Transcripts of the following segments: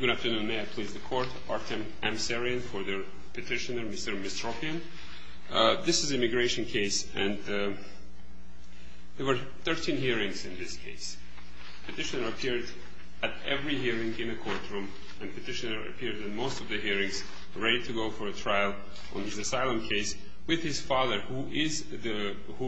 Good afternoon, may I please the court. Artem Amsaryan for the petitioner Mr. Mesropyan. This is an immigration case and there were 13 hearings in this case. The petitioner appeared at every hearing in the courtroom and the petitioner appeared in most of the hearings, ready to go for a trial on his asylum case with his father, who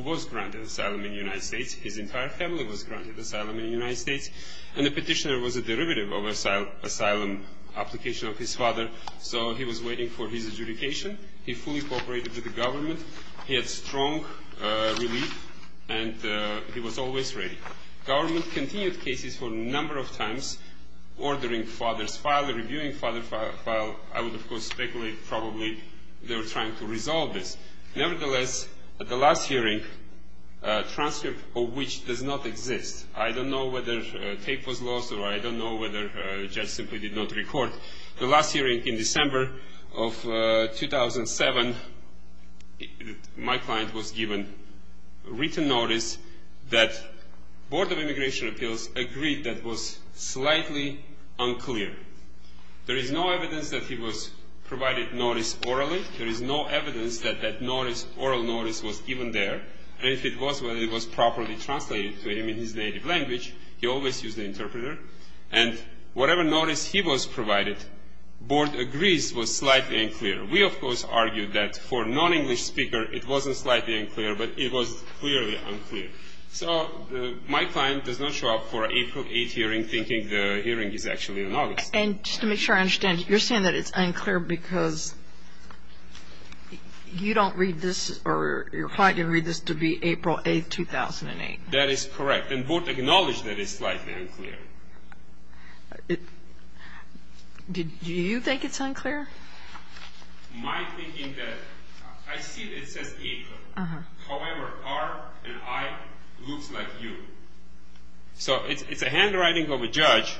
was granted asylum in the United States. His entire family was granted asylum in the United States. And the petitioner was a derivative of asylum application of his father, so he was waiting for his adjudication. He fully cooperated with the government. He had strong relief and he was always ready. Government continued cases for a number of times, ordering father's file, reviewing father's file. I would, of course, speculate probably they were trying to resolve this. Nevertheless, at the last hearing, a transcript of which does not exist. I don't know whether tape was lost or I don't know whether the judge simply did not record. The last hearing in December of 2007, my client was given written notice that Board of Immigration Appeals agreed that was slightly unclear. There is no evidence that he was provided notice orally. There is no evidence that that notice, oral notice, was given there. And if it was, whether it was properly translated to him in his native language, he always used the interpreter. And whatever notice he was provided, Board agrees was slightly unclear. We, of course, argued that for non-English speaker, it wasn't slightly unclear, but it was clearly unclear. So my client does not show up for April 8th hearing thinking the hearing is actually in August. And just to make sure I understand, you're saying that it's unclear because you don't read this, or your client didn't read this to be April 8th, 2008. That is correct. And Board acknowledged that it's slightly unclear. Do you think it's unclear? My thinking that, I see it says April. However, R and I looks like U. So it's a handwriting of a judge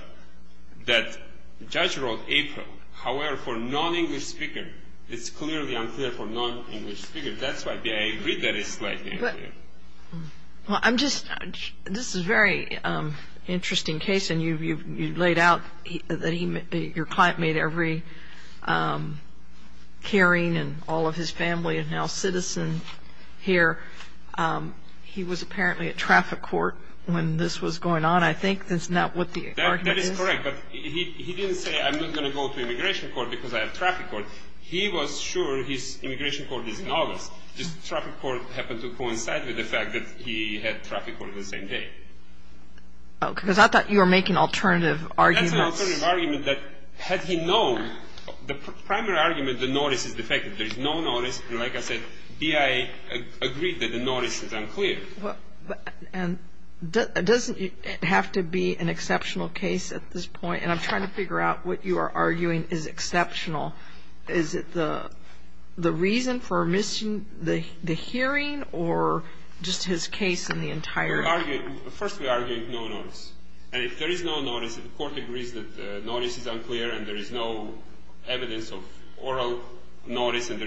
that the judge wrote April. However, for non-English speaker, it's clearly unclear for non-English speaker. That's why I agree that it's slightly unclear. Well, I'm just, this is a very interesting case. And you've laid out that your client made every caring and all of his family and now citizen here. He was apparently at traffic court when this was going on, I think. Isn't that what the argument is? That is correct. But he didn't say, I'm not going to go to immigration court because I have traffic court. He was sure his immigration court is in August. This traffic court happened to coincide with the fact that he had traffic court the same day. Because I thought you were making alternative arguments. That's an alternative argument that had he known, the primary argument, the notice is the fact that there is no notice. Like I said, BIA agreed that the notice is unclear. And doesn't it have to be an exceptional case at this point? And I'm trying to figure out what you are arguing is exceptional. Is it the reason for missing the hearing or just his case in the entire? First we are arguing no notice. And if there is no notice, the court agrees that the notice is unclear and there is no evidence of oral notice and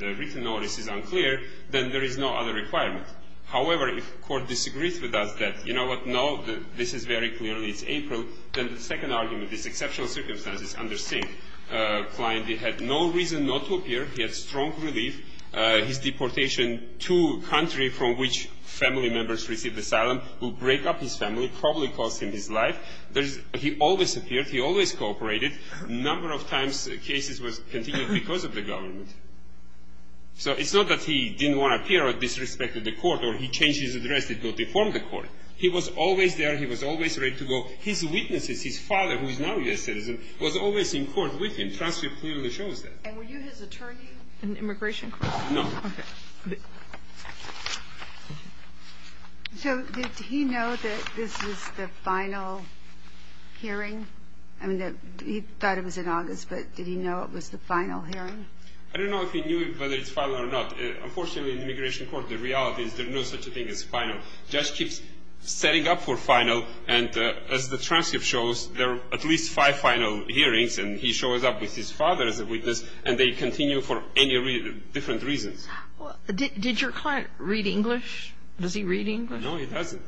the written notice is unclear, then there is no other requirement. However, if court disagrees with us that, you know what, no, this is very clearly April, then the second argument, this exceptional circumstance is understated. Klein had no reason not to appear. He had strong relief. His deportation to country from which family members received asylum will break up his family, probably cost him his life. He always appeared. He always cooperated. Number of times cases was continued because of the government. So it's not that he didn't want to appear or disrespected the court or he changed his address to go deform the court. He was always there. He was always ready to go. His witnesses, his father, who is now a U.S. citizen, was always in court with him. Transcript clearly shows that. And were you his attorney in immigration court? No. Okay. So did he know that this was the final hearing? I mean, he thought it was in August, but did he know it was the final hearing? I don't know if he knew whether it's final or not. Unfortunately, in immigration court, the reality is there's no such thing as final. Judge keeps setting up for final, and as the transcript shows, there are at least five final hearings, and he shows up with his father as a witness, and they continue for any different reasons. Did your client read English? Does he read English? No, he doesn't.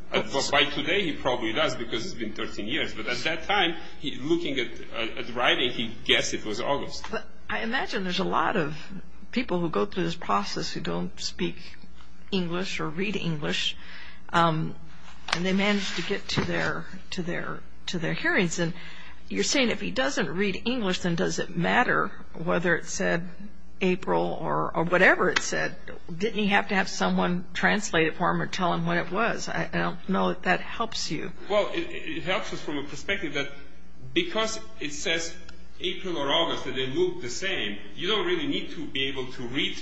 By today, he probably does because it's been 13 years. But at that time, looking at the writing, he guessed it was August. I imagine there's a lot of people who go through this process who don't speak English or read English, and they manage to get to their hearings. And you're saying if he doesn't read English, then does it matter whether it said April or whatever it said? Didn't he have to have someone translate it for him or tell him what it was? I don't know if that helps you. Well, it helps us from a perspective that because it says April or August and they look the same, you don't really need to be able to read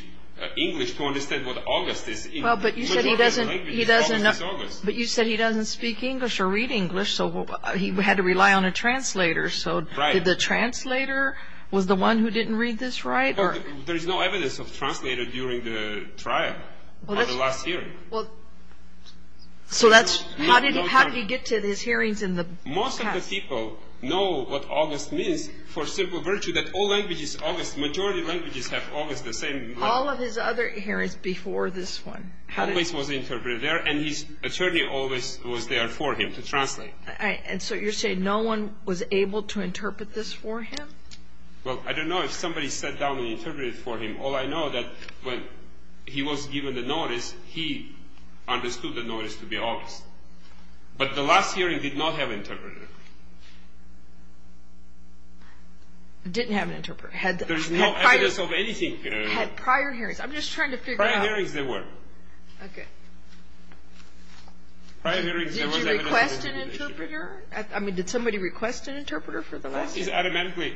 English to understand what August is. Well, but you said he doesn't speak English or read English, so he had to rely on a translator. So did the translator was the one who didn't read this right? There's no evidence of translator during the trial or the last hearing. So how did he get to his hearings in the past? Most of the people know what August means for simple virtue that all languages, majority languages have August the same. All of his other hearings before this one? Always was interpreted there, and his attorney always was there for him to translate. And so you're saying no one was able to interpret this for him? Well, I don't know if somebody sat down and interpreted it for him. All I know that when he was given the notice, he understood the notice to be August. But the last hearing did not have an interpreter. Didn't have an interpreter. There's no evidence of anything. Had prior hearings. I'm just trying to figure out. Prior hearings there were. Okay. Did you request an interpreter? I mean, did somebody request an interpreter for the last hearing?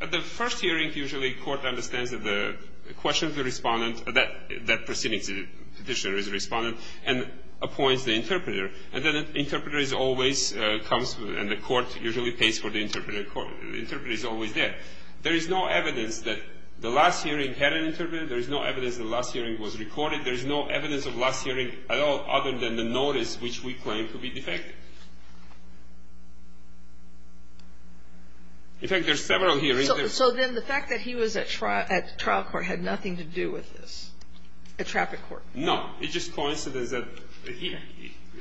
The first hearing usually court understands that the question of the respondent, that proceeding petitioner is a respondent, and appoints the interpreter. And then the interpreter always comes, and the court usually pays for the interpreter. The interpreter is always there. There is no evidence that the last hearing had an interpreter. There is no evidence the last hearing was recorded. There is no evidence of last hearing at all other than the notice, which we claim to be defective. In fact, there's several hearings. So then the fact that he was at trial court had nothing to do with this? At traffic court? No. It's just coincidence that he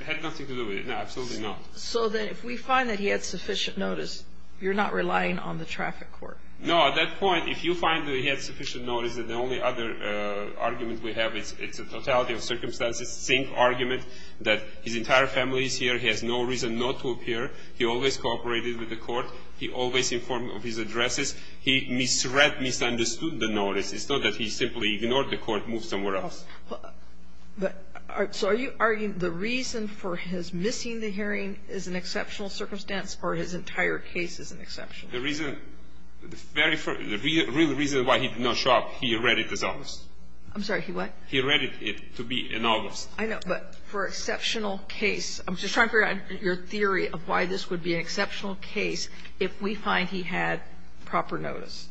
had nothing to do with it. No, absolutely not. So then if we find that he had sufficient notice, you're not relying on the traffic court? No. At that point, if you find that he had sufficient notice, then the only other argument we have is it's a totality of circumstances. It's the same argument that his entire family is here. He has no reason not to appear. He always cooperated with the court. He always informed of his addresses. He misread, misunderstood the notice. It's not that he simply ignored the court, moved somewhere else. So are you arguing the reason for his missing the hearing is an exceptional circumstance or his entire case is an exception? The reason, the very first, the real reason why he did not show up, he read it as August. I'm sorry. He what? He read it to be in August. I know. But for exceptional case, I'm just trying to figure out your theory of why this would be an exceptional case if we find he had proper notice.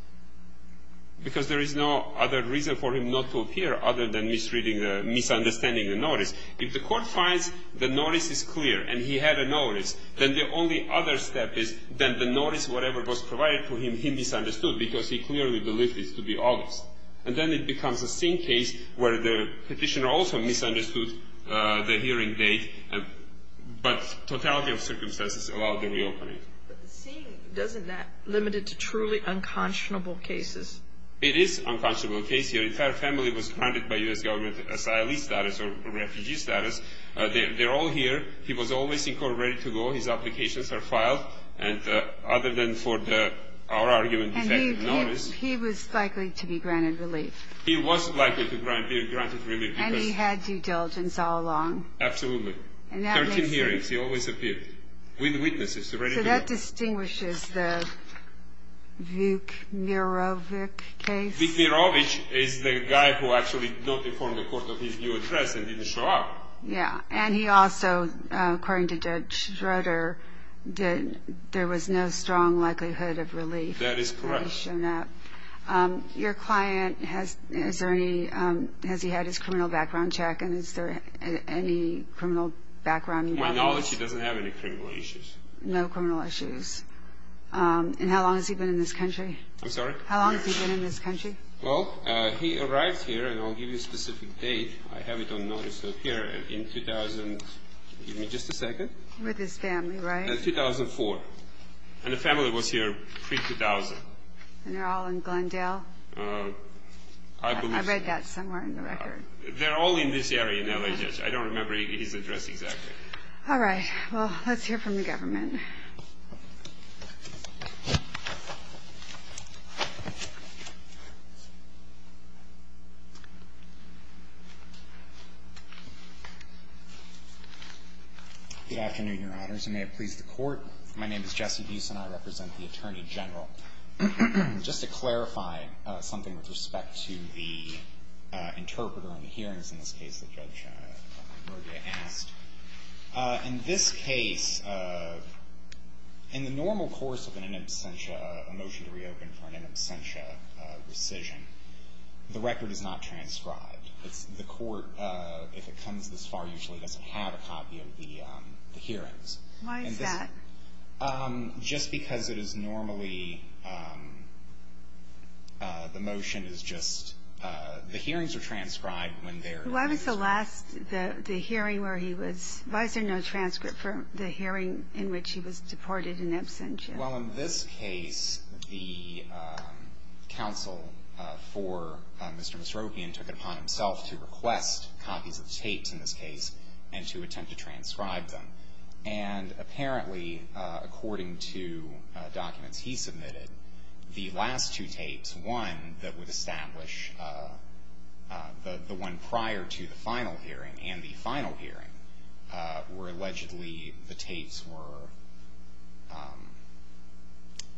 Because there is no other reason for him not to appear other than misreading the, misunderstanding the notice. If the court finds the notice is clear and he had a notice, then the only other step is then the notice, whatever was provided to him, he misunderstood because he clearly believed it to be August. And then it becomes a same case where the Petitioner also misunderstood the hearing date, but totality of circumstances allowed the reopening. But the seeing, doesn't that limit it to truly unconscionable cases? It is unconscionable case. His entire family was granted by U.S. government asylee status or refugee status. They're all here. He was always in court ready to go. His applications are filed. And other than for our argument defective notice. And he was likely to be granted relief. He was likely to be granted relief. And he had due diligence all along. Absolutely. 13 hearings, he always appeared. With witnesses ready to go. So that distinguishes the Vuk Mirovic case. Vuk Mirovic is the guy who actually not informed the court of his new address and didn't show up. Yeah. And he also, according to Judge Schroeder, there was no strong likelihood of relief. That is correct. Your client, has he had his criminal background checked? And is there any criminal background? To my knowledge, he doesn't have any criminal issues. No criminal issues. And how long has he been in this country? I'm sorry? How long has he been in this country? Well, he arrived here, and I'll give you a specific date. I have it on notice here. In 2000, give me just a second. With his family, right? In 2004. And the family was here pre-2000. And they're all in Glendale? I believe so. I read that somewhere in the record. They're all in this area in LHS. I don't remember his address exactly. All right. Well, let's hear from the government. Good afternoon, Your Honors, and may it please the Court, my name is Jesse Buse, and I represent the Attorney General. Just to clarify something with respect to the interpreter in the hearings in this case that Judge Morgia asked, in this case, in the normal course of an in absentia motion to reopen for an in absentia rescission, the record is not transcribed. The Court, if it comes this far, usually doesn't have a copy of the hearings. Why is that? Just because it is normally, the motion is just, the hearings are transcribed when they're in absentia. Why was the last, the hearing where he was, why is there no transcript for the hearing in which he was deported in absentia? Well, in this case, the counsel for Mr. Masrovian took it upon himself to request copies of the tapes in this case and to attempt to transcribe them. And apparently, according to documents he submitted, the last two tapes, one that would establish the one prior to the final hearing and the final hearing, were allegedly, the tapes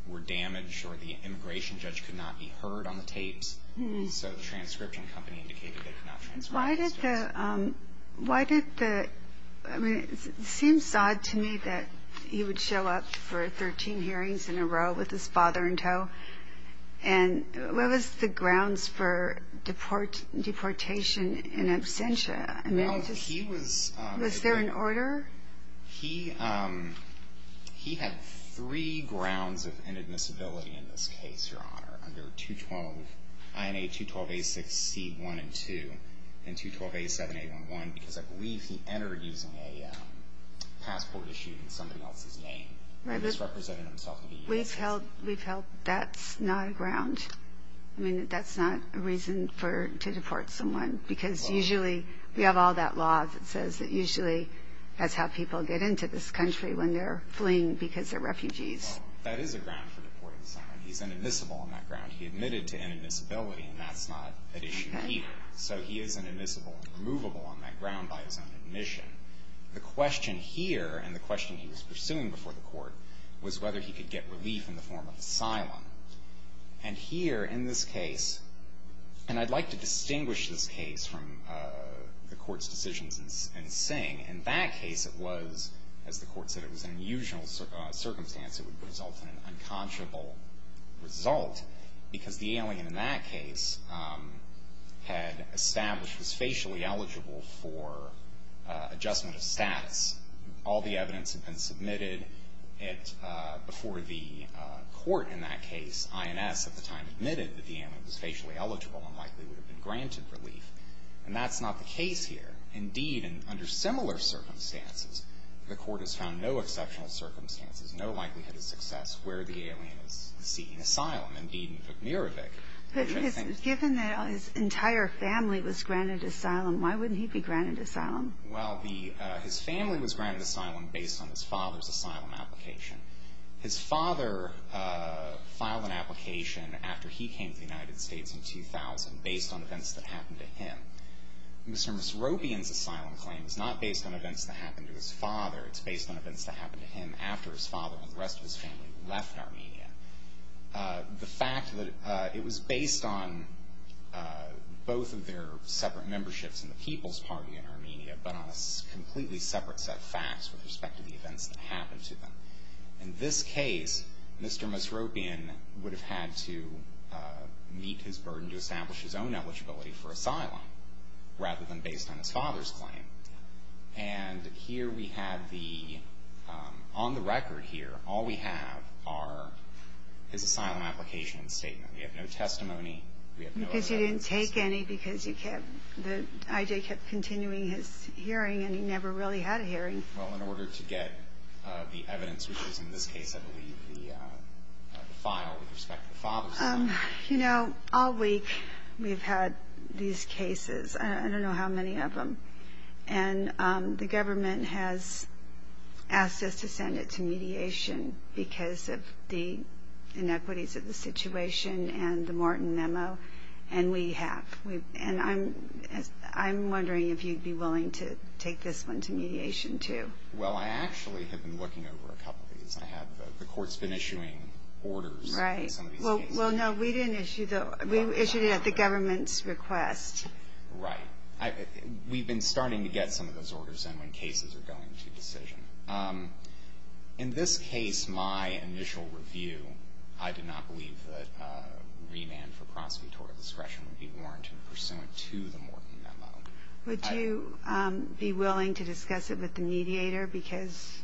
were damaged or the immigration judge could not be heard on the tapes. So the transcription company indicated they could not transcribe these tapes. It seems odd to me that he would show up for 13 hearings in a row with his father in tow. And what was the grounds for deportation in absentia? Was there an order? He had three grounds of inadmissibility in this case, Your Honor, under INA 212A6C1 and 2, and 212A7811, because I believe he entered using a passport issued in somebody else's name. He was representing himself to the U.S. Embassy. We've held that's not a ground. I mean, that's not a reason to deport someone, because usually we have all that law that says that usually that's how people get into this country when they're fleeing because they're refugees. Well, that is a ground for deporting someone. He's inadmissible on that ground. He admitted to inadmissibility, and that's not an issue here. So he is inadmissible and removable on that ground by his own admission. The question here, and the question he was pursuing before the Court, was whether he could get relief in the form of asylum. And here in this case, and I'd like to distinguish this case from the Court's decisions in Sing. In that case it was, as the Court said, it was an unusual circumstance. It would result in an unconscionable result, because the alien in that case had established was facially eligible for adjustment of status. All the evidence had been submitted before the Court in that case. INS at the time admitted that the alien was facially eligible and likely would have been granted relief. And that's not the case here. Indeed, under similar circumstances, the Court has found no exceptional circumstances, no likelihood of success, where the alien is seeking asylum. Indeed, in Vukmirovic. But given that his entire family was granted asylum, why wouldn't he be granted asylum? Well, his family was granted asylum based on his father's asylum application. His father filed an application after he came to the United States in 2000, based on events that happened to him. Mr. and Mrs. Robian's asylum claim is not based on events that happened to his father. It's based on events that happened to him after his father and the rest of his family left Armenia. The fact that it was based on both of their separate memberships in the People's Party in Armenia, but on a completely separate set of facts with respect to the events that happened to them. In this case, Mr. and Mrs. Robian would have had to meet his burden to establish his own eligibility for asylum, rather than based on his father's claim. And here we have the, on the record here, all we have are his asylum application and statement. We have no testimony, we have no evidence. Because you didn't take any, because the I.J. kept continuing his hearing, and he never really had a hearing. Well, in order to get the evidence, which was in this case, I believe, the file with respect to the father's asylum. You know, all week we've had these cases. I don't know how many of them. And the government has asked us to send it to mediation because of the inequities of the situation and the Morton memo. And we have. And I'm wondering if you'd be willing to take this one to mediation, too. Well, I actually have been looking over a couple of these. I have. The Court's been issuing orders in some of these cases. Right. Well, no, we didn't issue those. We issued it at the government's request. Right. We've been starting to get some of those orders in when cases are going to decision. In this case, my initial review, I did not believe that remand for prosecutorial discretion would be warranted pursuant to the Morton memo. Would you be willing to discuss it with the mediator? Because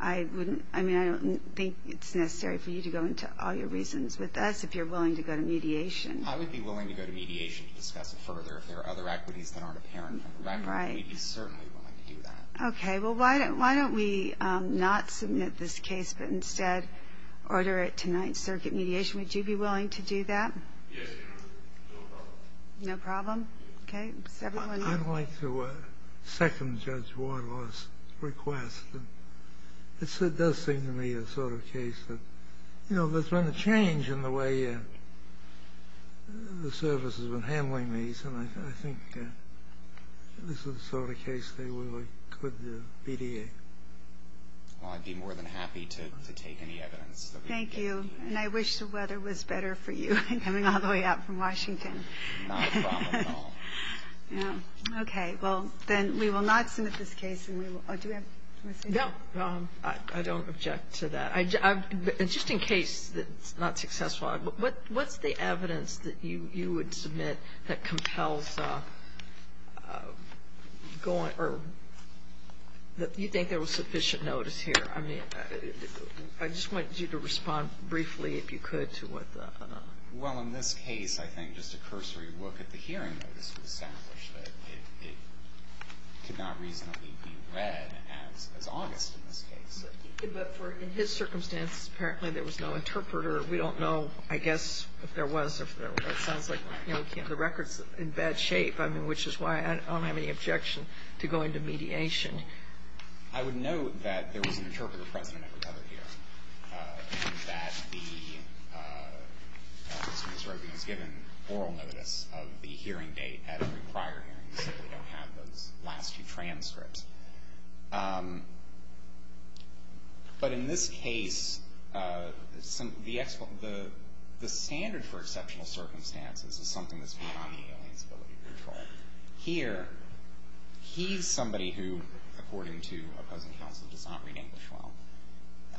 I don't think it's necessary for you to go into all your reasons with us if you're willing to go to mediation. I would be willing to go to mediation to discuss it further if there are other equities that aren't apparent. Right. We'd be certainly willing to do that. Okay. Well, why don't we not submit this case but instead order it tonight, circuit mediation? Would you be willing to do that? Yes. No problem. No problem? Okay. I'd like to second Judge Wardlaw's request. It does seem to me a sort of case that, you know, there's been a change in the way the service has been handling these, and I think this is the sort of case they really could mediate. Well, I'd be more than happy to take any evidence that we can get. Thank you. And I wish the weather was better for you coming all the way out from Washington. Not a problem at all. No. Okay. Well, then we will not submit this case, and we will do we have a question? No. I don't object to that. Just in case it's not successful, what's the evidence that you would submit that compels going or that you think there was sufficient notice here? I mean, I just want you to respond briefly if you could to what the. Well, in this case, I think just a cursory look at the hearing notice would establish that it could not reasonably be read as August in this case. But in his circumstance, apparently there was no interpreter. We don't know, I guess, if there was. It sounds like, you know, the record's in bad shape, which is why I don't have any objection to going to mediation. I would note that there was an interpreter present that recovered here. That the, as Ms. Robey has given, oral notice of the hearing date at every prior hearing. We simply don't have those last few transcripts. But in this case, the standard for exceptional circumstances is something that's beyond the alien's ability to control. Here, he's somebody who, according to opposing counsel, does not read English well.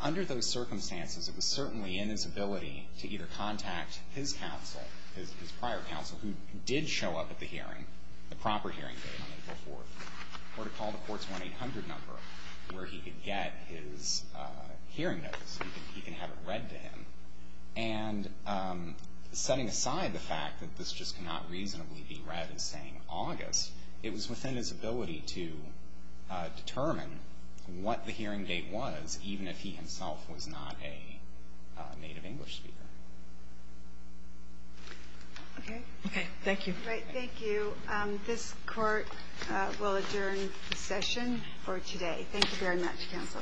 Under those circumstances, it was certainly in his ability to either contact his counsel, his prior counsel, who did show up at the hearing, the proper hearing date on April 4th, or to call the court's 1-800 number where he could get his hearing notice. He can have it read to him. And setting aside the fact that this just cannot reasonably be read as saying August, it was within his ability to determine what the hearing date was, even if he himself was not a native English speaker. Okay. Okay, thank you. Great, thank you. This court will adjourn the session for today. Thank you very much, counsel.